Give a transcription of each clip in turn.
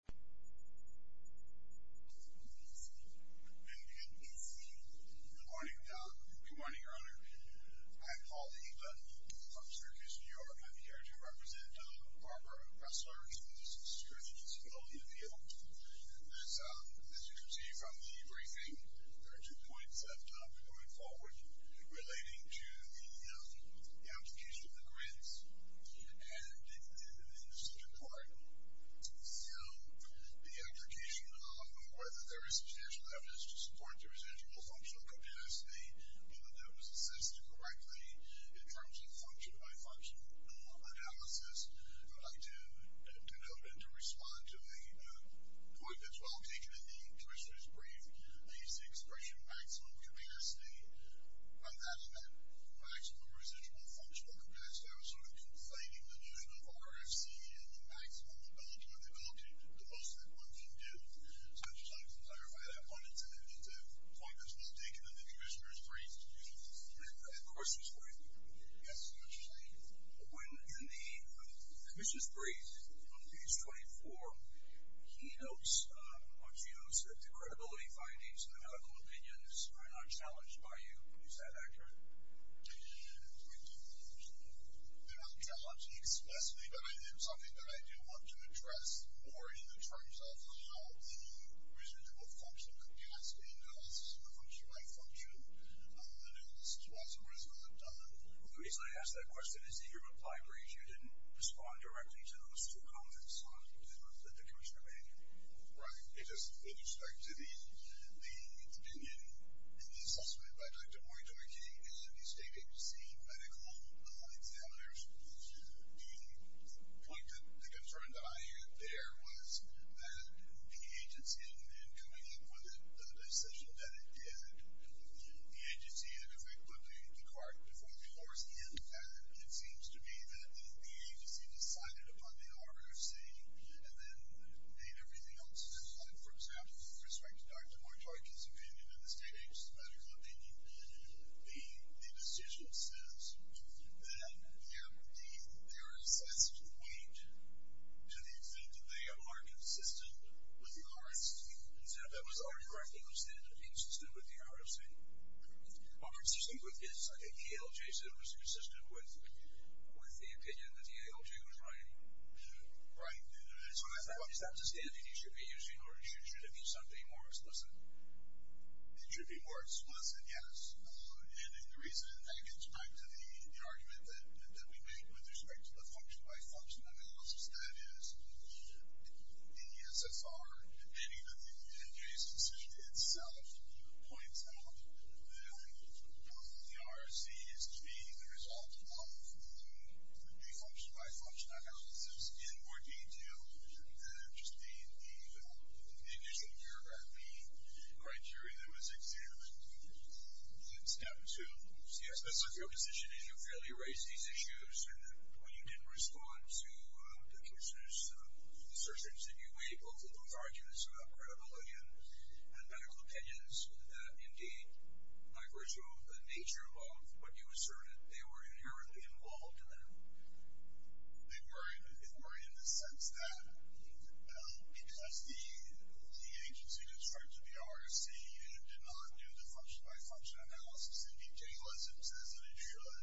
Good morning, Your Honor. I'm Paul Heba from Syracuse, New York. I'm here to represent Barbara Ressler, who is the Assistant Attorney General in the field. As you can see from the briefing, there are two points that I've done going forward relating to the application of the application of whether there is substantial evidence to support the residual functional capacity that was assessed correctly in terms of function-by-function analysis. I'd like to note and to respond to a point that's well taken in the Commissioner's brief, is the expression maximum capacity. By adding that maximum residual functional capacity, I was sort of conflating the notion of RFC and the maximum ability or the ability to post that one can do. So I'd just like to clarify that point and to point that's well taken in the Commissioner's brief. Excuse me. Of course it's well taken. Yes, Your Honor. When in the Commissioner's brief on page 24, he notes or she notes that the credibility findings and the medical opinions are not challenged by you. Is that accurate? Did you hear what the Commissioner said? They're not challenged explicitly, but it is something that I do want to address more in the terms of how the residual function capacity analysis or function-by-function analysis was and was not done. Well, the reason I asked that question is that your reply brief, you didn't respond directly to those two comments on the Commissioner's brief. Right. It is with respect to the opinion and the assessment by Dr. Boyd-Doherty and the state agency medical examiners. The point that the concern that I had there was that the agency had not been coming up with the decision that it did. The agency had put the cart before the horse and it seems to be that the agency decided upon the For example, with respect to Dr. Boyd-Doherty's opinion and the state agency medical opinion, the decision says that they are excessive in weight to the extent that they are consistent with the RFC. Is that what you're asking? He was saying that he was consistent with the RFC. Well, consistent with his, I think, ALJ said he was consistent with the opinion that the ALJ was right. So is that the standard you should be using or should it be something more explicit? It should be more explicit, yes. And the reason that gets back to the argument that we made with respect to the function-by-function analysis, that is in the SFR, depending on the NJ's decision itself, points out that both of the RFCs being the result of the function-by-function analysis in more detail than just the initial RFP criteria that was examined in step two. So your position is you fairly raised these issues and when you didn't respond to the commissioners' assertions that you weighed both of those arguments about credibility and medical opinions, that indeed, by virtue of the nature of what you asserted, they were inherently involved in them? They were in the sense that, because the agency that started the RFC did not do the function-by-function analysis, indeed, JLISM says that it should,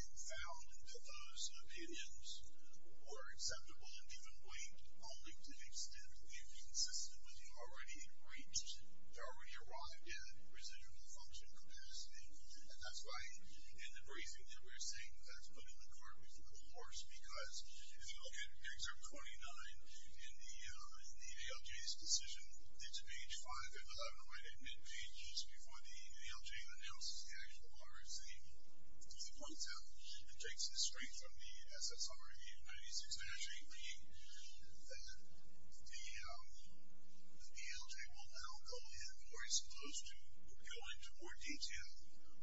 and found that those opinions were acceptable in given weight only to the extent that they were consistent with what you already had reached, had already arrived at, residual function capacity. And that's why in the briefing that we're seeing, that's put in the court before the courts, because if you look at Excerpt 29, in the ALJ's decision, it's page 5 and 11, right at mid-pages, before the ALJ announces the actual RFC, really points out and takes it straight from the SFR review 96-8B, that the ALJ will now go in more, is supposed to go into more detail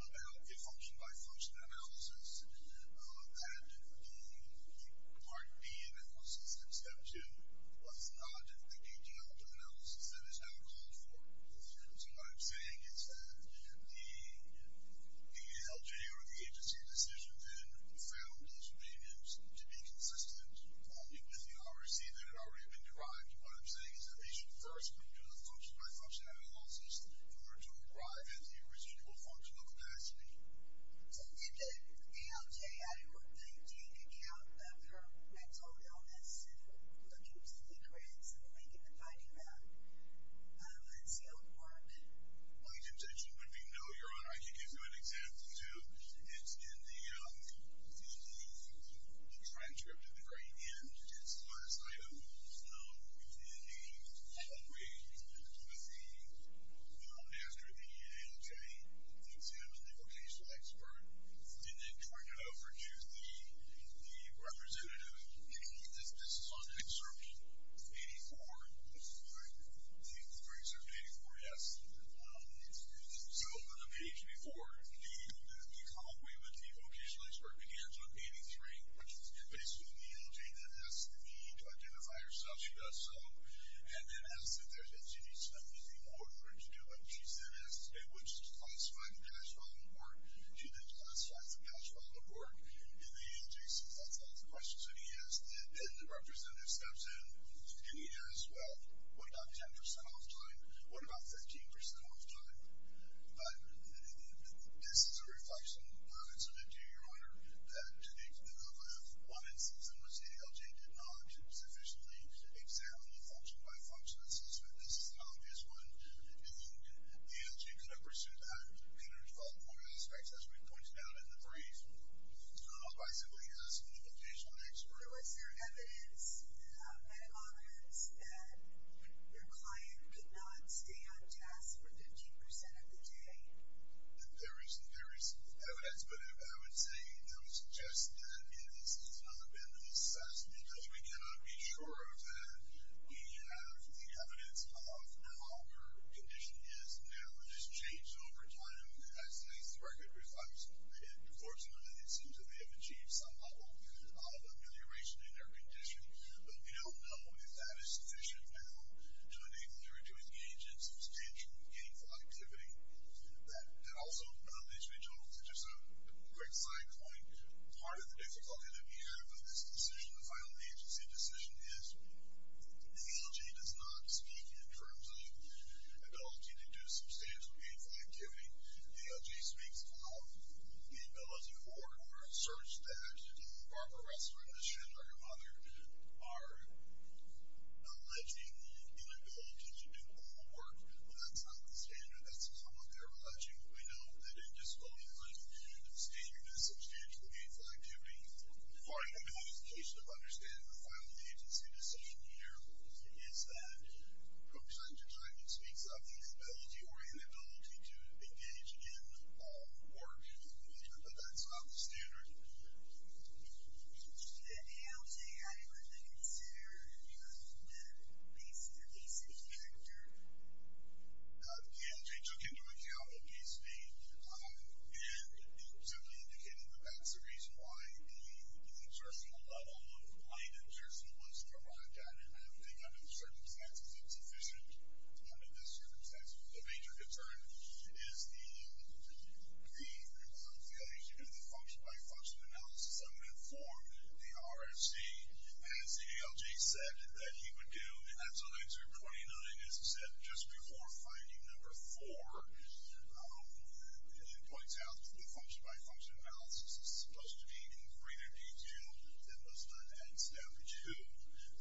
about a function-by-function analysis, and the Part B analysis, Excerpt 2, was not a general analysis that is now called for. So what I'm saying is that the ALJ or the agency decision then found those opinions to be consistent with the RFC that had already been derived, and what I'm saying is that they should first go into the function-by-function analysis in order to arrive at the residual functional capacity. So did the ALJ, I don't know, do you take account of her mental illness and look into the creds and the link in the finding map? Let's see how it worked. Well, you can take it when we know, Your Honor. I can give you an example too. It's in the after the ALJ examined the vocational expert, and then turned it over to the representative, this is on Excerpt 84, the very Excerpt 84, yes. So on the page before, the convoy with the vocational expert begins on 83, and basically the ALJ then has the need to identify herself, she does so, and then asks if she needs to do anything more for it to do, and what she said is, it would just classify the cash follow-up work, do they classify the cash follow-up work in the ALJ? So that's one of the questions that he asked, and then the representative steps in, and he asks, well, what about 10% off time? What about 15% off time? But this is a reflection on it, so then do you, Your Honor, that if one instance in which the ALJ did not sufficiently examine the function-by-function assessment, this is an obvious one, do you think the ALJ could have pursued a better follow-up work aspect, as we've pointed out in the brief, by simply asking the vocational expert? Was there evidence at all times that your client could not stay on task for 15% of the day? There is, there is evidence, but I would say that it was just that this has not been an assessment, that we cannot be sure of that. We have the evidence of how her condition is now, it has changed over time, as the record reflects. Of course, in many instances, they have achieved some level of amelioration in their condition, but we don't know if that is sufficient now to enable you to engage in substantial gainful activity. And also, let me switch over to just a quick side point. Part of the difficulty that we have with this decision, the final agency decision, is the ALJ does not speak in terms of ability to do substantial gainful activity. The ALJ speaks of the ability to work or search the restaurant, the chef, or your mother, are alleging the inability to do all work, but that's not the standard. That's not what they're alleging. We know that it just goes under the standard of substantial gainful activity. Part of the justification of understanding the final agency decision here is that, from time to time, it speaks of the ability or inability to engage in all work, but that's not the standard. Did the ALJ have anything to consider in terms of that basis or basis factor? The ALJ took into account what case made, and simply indicated that that's the reason why the exertional level of light exertion was derived out of nothing under the circumstances. It's efficient under the circumstances. The major concern is the pre-approval of the ALJ to do the function-by-function analysis of and for the RFC, as the ALJ said that he would do. That's on answer 29, as I said, just before finding number four. It points out that the function-by-function analysis is supposed to be in greater detail than was done at established to.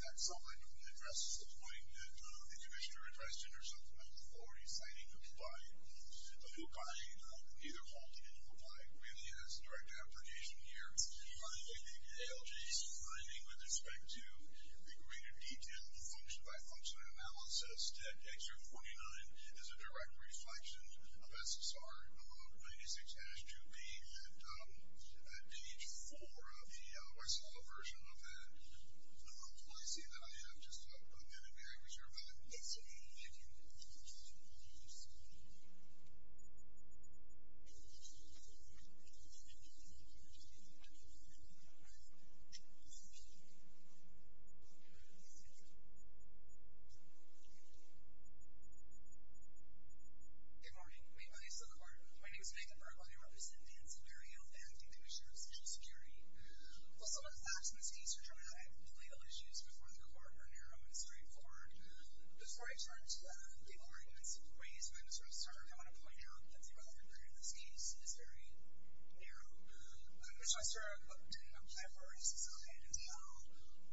That's something that addresses the point that the Commissioner addressed in her supplemental authority, citing Hukai, neither Halti nor Hukai really as a direct application here. Finally, the ALJ's finding with respect to the greater detail of the function-by-function analysis, that X049 is a direct reflection of SSR 206-2B, and at page four of the YSL version of the article, I see that I have just a minute here. I wish you were back. It's me. Thank you for the introduction. Thank you for the introduction. Good morning. My name is Nathan Burkle. I represent the Insecurity and Authenticity Commission of Social Security. Well, some of the facts in this case are dramatic. The legal issues before the court are narrow and straightforward. Before I turn to the arguments and ways I'm going to start, I want to point out that the relevant period in this case is very narrow. I'm going to start doing a plethora of reasons on how I ended up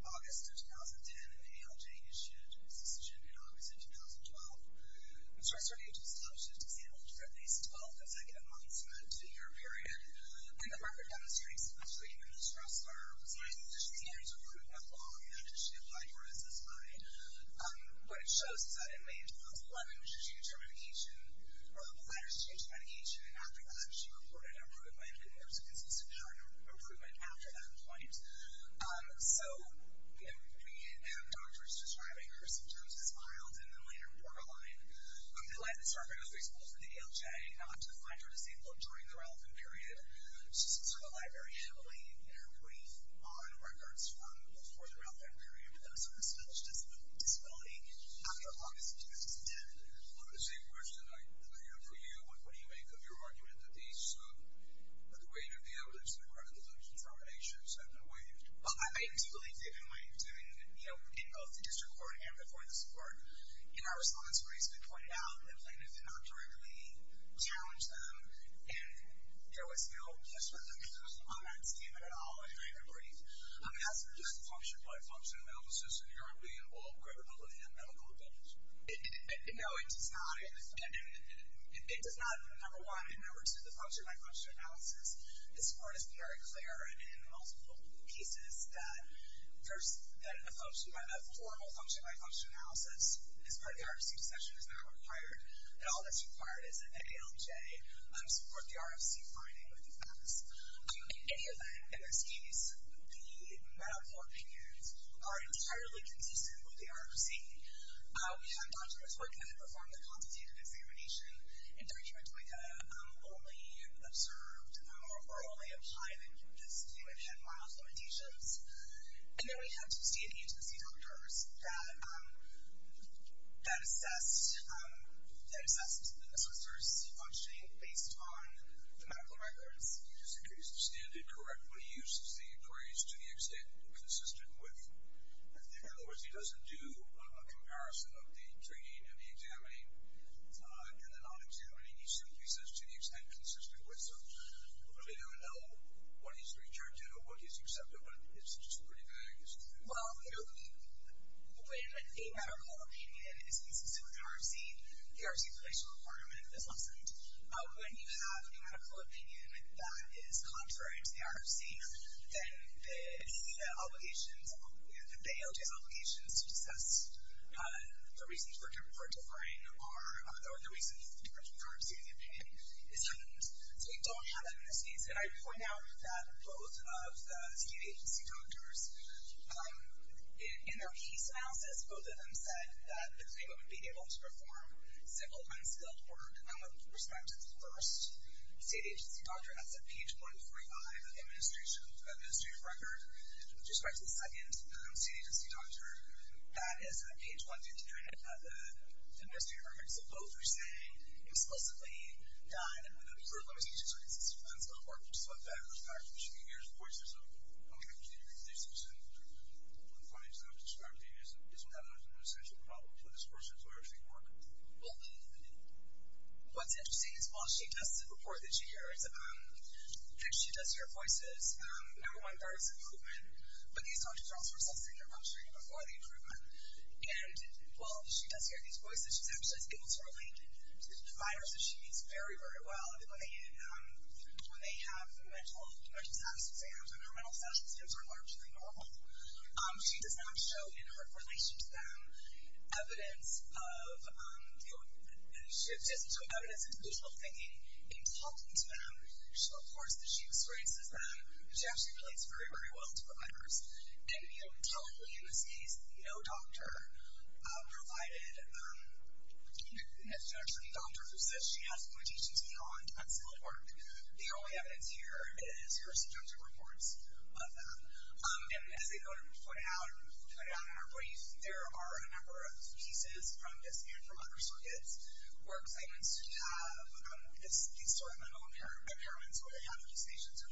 August of 2010 in the ALJ-issued decision in August of 2012. I'm going to start with a two-step shift to demonstrate some of the human distress curves. I think there's a few things we could move along after the shift, like where this is tied. What it shows is that in May of 2011, when she was changed her medication, or the psychiatrist changed her medication, and after that she reported an improvement, and there was a consistent chart of improvement after that point. So, you know, we have doctors describing her symptoms as mild, and then later, more violent. They led the survey, for example, for the ALJ not to find her disabled during the relevant period. So some of the librarians believe that her brief on records from before the relevant period was on a specialist disability after August of 2010. I have the same question that I have for you. What do you make of your argument that the weight of the evidence and the credibility of the determinations have been waived? Well, I do believe, given what I'm doing, you know, in both the district court and before the court, in our response where it's been pointed out that plaintiffs did not directly challenge them, and there was no discredit on that statement at all in her brief. I mean, as for just function-by-function analysis, in your opinion, will it greater the living and medical advantage? No, it does not, and it does not, number one, in regards to the function-by-function analysis, as far as being very clear in multiple pieces, that a formal function-by-function analysis is what the RFC session is now required, and all that's required is an ALJ to support the RFC finding with the facts. In any event, in this case, the meta-court opinions are entirely consistent with the RFC. We have doctors working to perform the quantitative examination in terms of doing a lowly observed or a lowly applied incumbency limit and mild limitations, and then we have to see the doctors that assess the necessary C-functioning based on the medical regularities. In other words, he doesn't do a comparison of the training and the examining and the non-examining, he simply says, to the extent consistent with them, but we don't know what he's referred to, but it's just pretty vague. Well, when a medical opinion is consistent with the RFC, the RFC-relational requirement is lessened. When you have a medical opinion that is contrary to the RFC, then the ALJ's obligations to assess the reasons for differing or the reasons for exceeding the opinion is heightened. So we don't have that in this case, and I point out that both of the state agency doctors, in their case analysis, both of them said that the agreement would be able to perform simple, unskilled work, and with respect to the first state agency doctor, that's at page 145 of the administrative record, with respect to the second state agency doctor, that is at page 122 of the administrative record. So both were saying, explicitly, that a group of state agencies would be able to perform simple work. So with that in respect, she hears voices of community relations, and from the findings that I've described to you, isn't that an essential problem for this person's RFC work? Well, what's interesting is while she tests the report that she hears, if she does hear voices, number one, there is improvement, but these doctors are also assessing before the improvement, and while she does hear these voices, she's actually able to relate to the providers that she meets very, very well. When they have mental health exams, and her mental health exams are largely normal, she does not show in her relation to them evidence of, you know, she doesn't show evidence of mutual thinking in talking to them. So of course, she experiences that, but she actually relates very, very well to the providers, and you know, totally in this case, no doctor provided, no doctor who says she has limitations beyond simple work. The only evidence here is her subjective reports of that, and as I go to point out in our brief, there are a number of pieces from this, and from other circuits, where claimants who have, these sort of mental impairments, where they have hallucinations or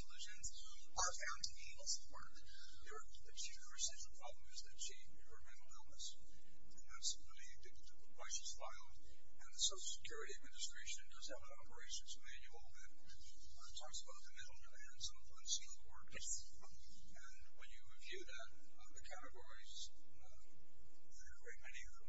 that she, her essential problem is that she, her mental illness, and that's really indicative of why she's violent, and the Social Security Administration does have an operations manual that talks about the mental health and some of the unsealed work, and when you review that, the categories, there are very many of them,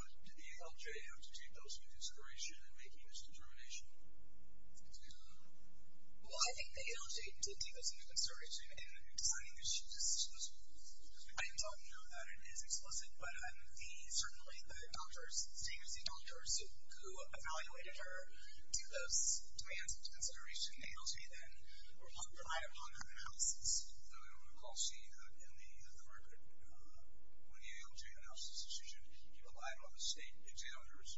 but did the ALJ have to take those into consideration in making this determination? Please, go ahead. Well, I think the ALJ did take those into consideration in designing this decision, as we've been talking about, that it is explicit, but the, certainly, the doctors, the same as the doctors who evaluated her, did those demands into consideration. The ALJ then relied upon analysis. I don't recall seeing that in the market, when the ALJ analysis decision relied on the state examiners,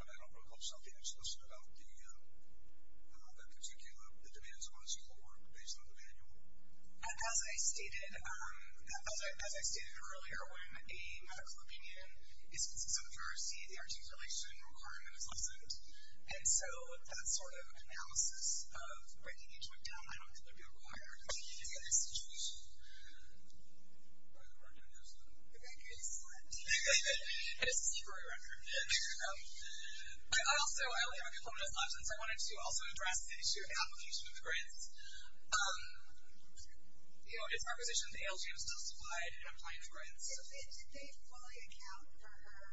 but I don't recall seeing that in this module. Sophie, you had a question about the birchicula, the demands of unsealed work, based on the manual? As I stated earlier, when a medical opinion consensusarchy, the RT regulation requirement is lifted, and so that sort of analysis of bringing each week down, I don't think that'd be required in any situation. Right around here, isn't it? I think it's right here. It's right around here. I also, I only have a couple minutes left, since I wanted to also address the issue of the application of the GRIDs. You know, it's our position that the ALG is justified in applying for GRIDs. Sophie, did they fully account for her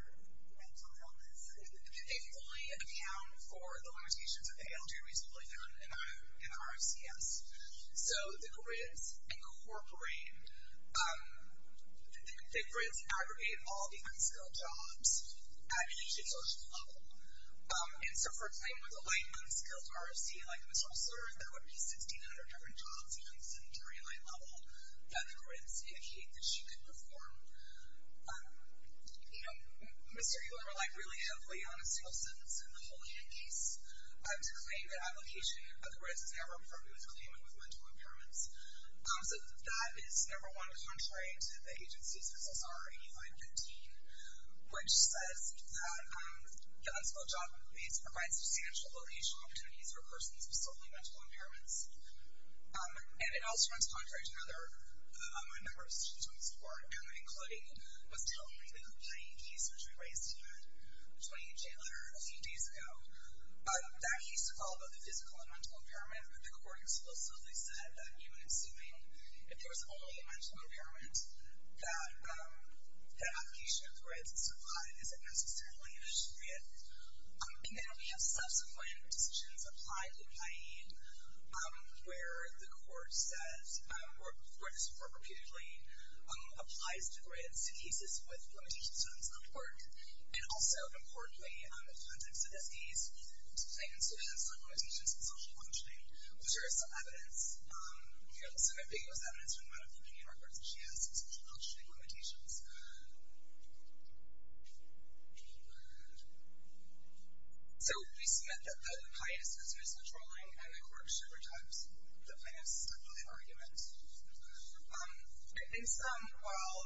mental illness? Did they fully account for the limitations of the ALG reasonably enough in the RFCS? So, the GRIDs incorporate, the GRIDs aggregate all the unskilled jobs at an institutional level. And so, for a claim with a light, unskilled RFC, like Ms. Hossler, there would be 1,600 different jobs, even at some very light level, that the GRIDs indicate that she could perform. You know, Ms. Circular relied really heavily on a single sentence in the Holyhead case to claim the application, but the GRIDs never approved the claimant with mental impairments. So, that is number one, contrary to the agency's SSR 8515, which says that unskilled job needs provide substantial alleviation opportunities for persons with solely mental impairments. And it also runs contrary to another, a member of the Student Joint Support, and that including was telling the complaint case, which we raised tonight, the 28-day letter a few days ago, that he used to call about the physical and mental impairment, but the court explicitly said that even assuming that there was only a mental impairment, that the application of GRIDs is not necessarily an issue yet. And then we have subsequent decisions applied in Hyde, where the court says, where this court repeatedly applies the GRIDs to cases with limitations on its own court, and also importantly, in the context of this case, things like limitations on social functioning, which are some evidence, you know, some of the biggest evidence from one of the many records that she has on social functioning limitations. So, we submit that Hyde is considered controlling, and the court should reject the plaintiff's argument. I think some, while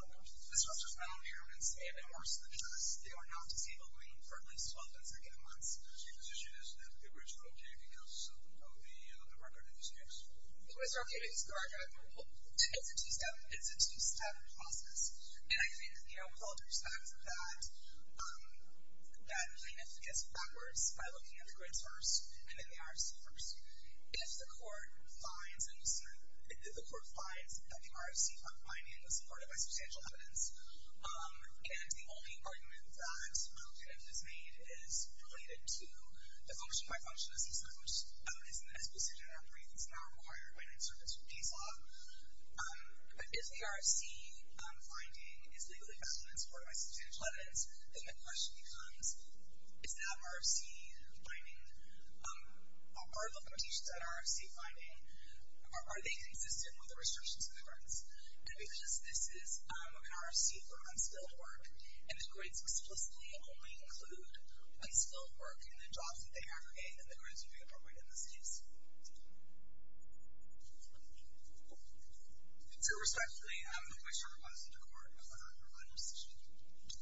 this judge's mental impairments may have been worse than the judge's, they were not deceivable for at least 12 consecutive months. So, your position is that the approach is okay, because of the record in this case? It was okay because, correct me if I'm wrong, it's a two-step process. And I think, you know, the appellate judge found that plaintiff gets backwards by looking at the GRIDs first, and at the IRS first. If the court finds that the RFC finding was supported by substantial evidence, and the only argument that plaintiff has made is related to the function-by-function assessment, which is the best decision, I believe, that's now required when in service with DSAW, but if the RFC finding is legally valid and supported by substantial evidence, then the question becomes, is that RFC finding, are the limitations on RFC finding, are they consistent with the restrictions on the GRIDs? And because this is an RFC for unskilled work, and the GRIDs explicitly only include unskilled work in the jobs that they aggregate, then the GRIDs would be appropriate in this case. So, respectfully, I'm not quite sure who wants to go to court. I'm not sure what my position would be. I'm not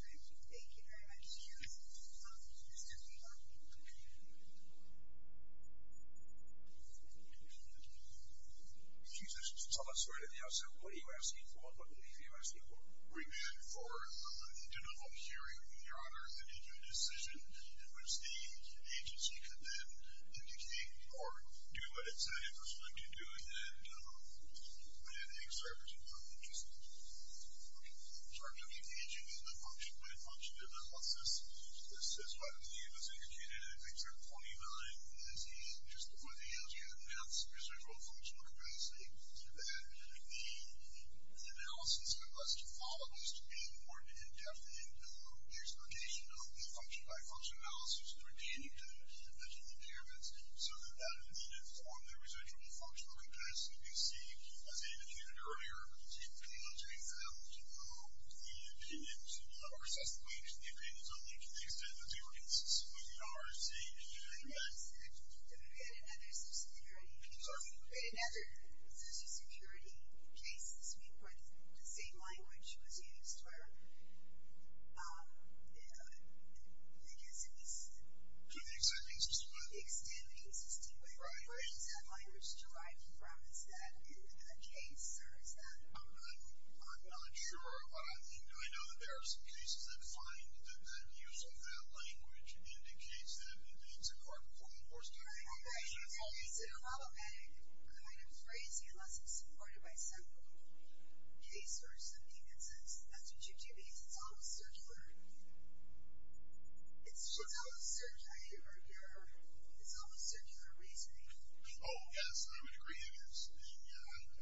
sure what my position would be. I'm not sure what my position would be. Excuse me, so let's start at the outset. What are you asking for? What do you feel you're asking for? We're asking for a general hearing in the honor, and then to a decision in which the agency can then dictate, or do what it's intended for someone to do, and then exert some sort of interest in it. Okay. Sorry. I'm going to be engaging in the function-by-function analysis. This is what was indicated in picture 29, as he, just to put it, as he had announced residual functional capacity, that the analysis that was to follow was to be important in depth into the explication of the function-by-function analysis, and we're keen to mention the impairments so that that would inform the residual functional capacity. We do see, as Ava mentioned earlier, particularly on JL, the opinions, or assessment of the opinions only to the extent that they were consistent with the RFC, and you're doing that. And we had another social security case. Sorry? We had another social security case this week where the same language was used for, I guess it was... To the extent it was consistent. Right. Where is that language derived from? Is that in a case, or is that... I'm not sure, but I know that there are some cases that find that use of that language indicates that it's a core component. Right. It's a problematic kind of phrasing, unless it's supported by some case or something that says, that's what you do because it's almost circular. It's almost circular reasoning. Oh, yes. I would agree. Yes. I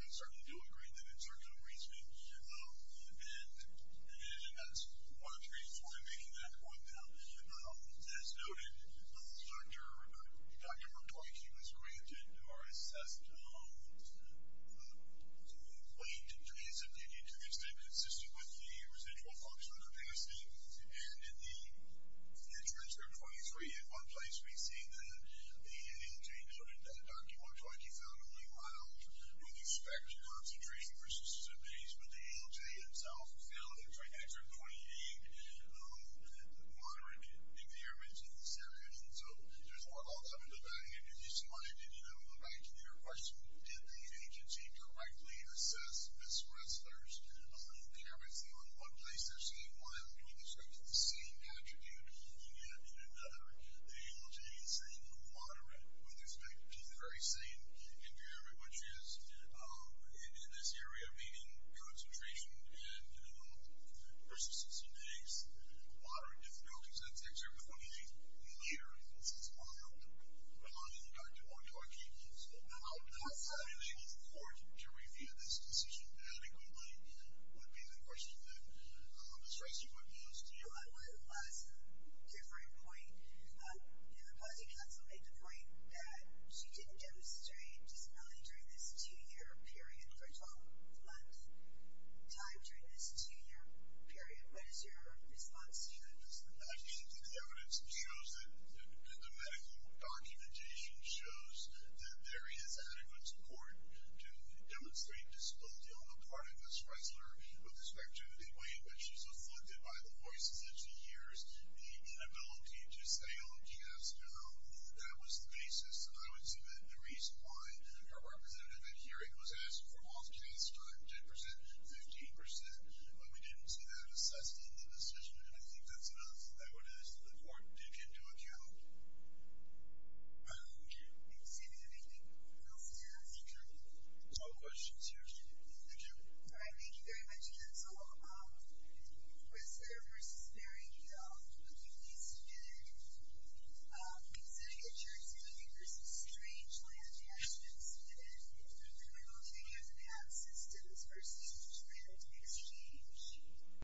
certainly do agree that it's circular reasoning. And as one of the reasons why I'm making that point now, as noted, Dr. McCoy, she was granted the opportunity to answer some of the questions that were asked. And I'm going to go back to your question. Did the agency correctly assess Ms. Ressler's care of her son in one place or the same while in another? I mean, there's sort of the same attribute in one area and in another. The LGA is saying, moderate with respect to the very same area, which is in this area meaning concentration and persistence in eggs. Moderate difficulty. So, that's excerpt 28. And later, it says, moderate. And Dr. McCoy, she was not evaluated for to review this decision adequately, would be a different question than Ms. Ressler would be as to you. Well, that's a different point. You know, the policy council made the point that she didn't demonstrate disability during this two-year period for a 12-month time during this two-year period. What is your response to that? I think the evidence shows that the medical documentation shows that there is adequate support to demonstrate disability on the part of Ms. Ressler with respect to the way in which she's afflicted by the voices of two years. The inability to stay on task, you know, that was the basis. I would submit the reason why her representative at hearing was asked for more task time, 10%, 15%. But we didn't see that assessed in the decision. And I think that's enough. That is what the court took into account. All right. Thank you. Thank you, sir. Anything else you'd like to add, Mr. Chairman? No questions here, Mr. Chairman. All right. Thank you very much, counsel. Ms. Ressler v. Barry Hill. I'm looking at these together. I'm considering a jurisdiction v. Strange Land Cash and Submitted. I'm looking at the math systems v. Strange Land Exchange.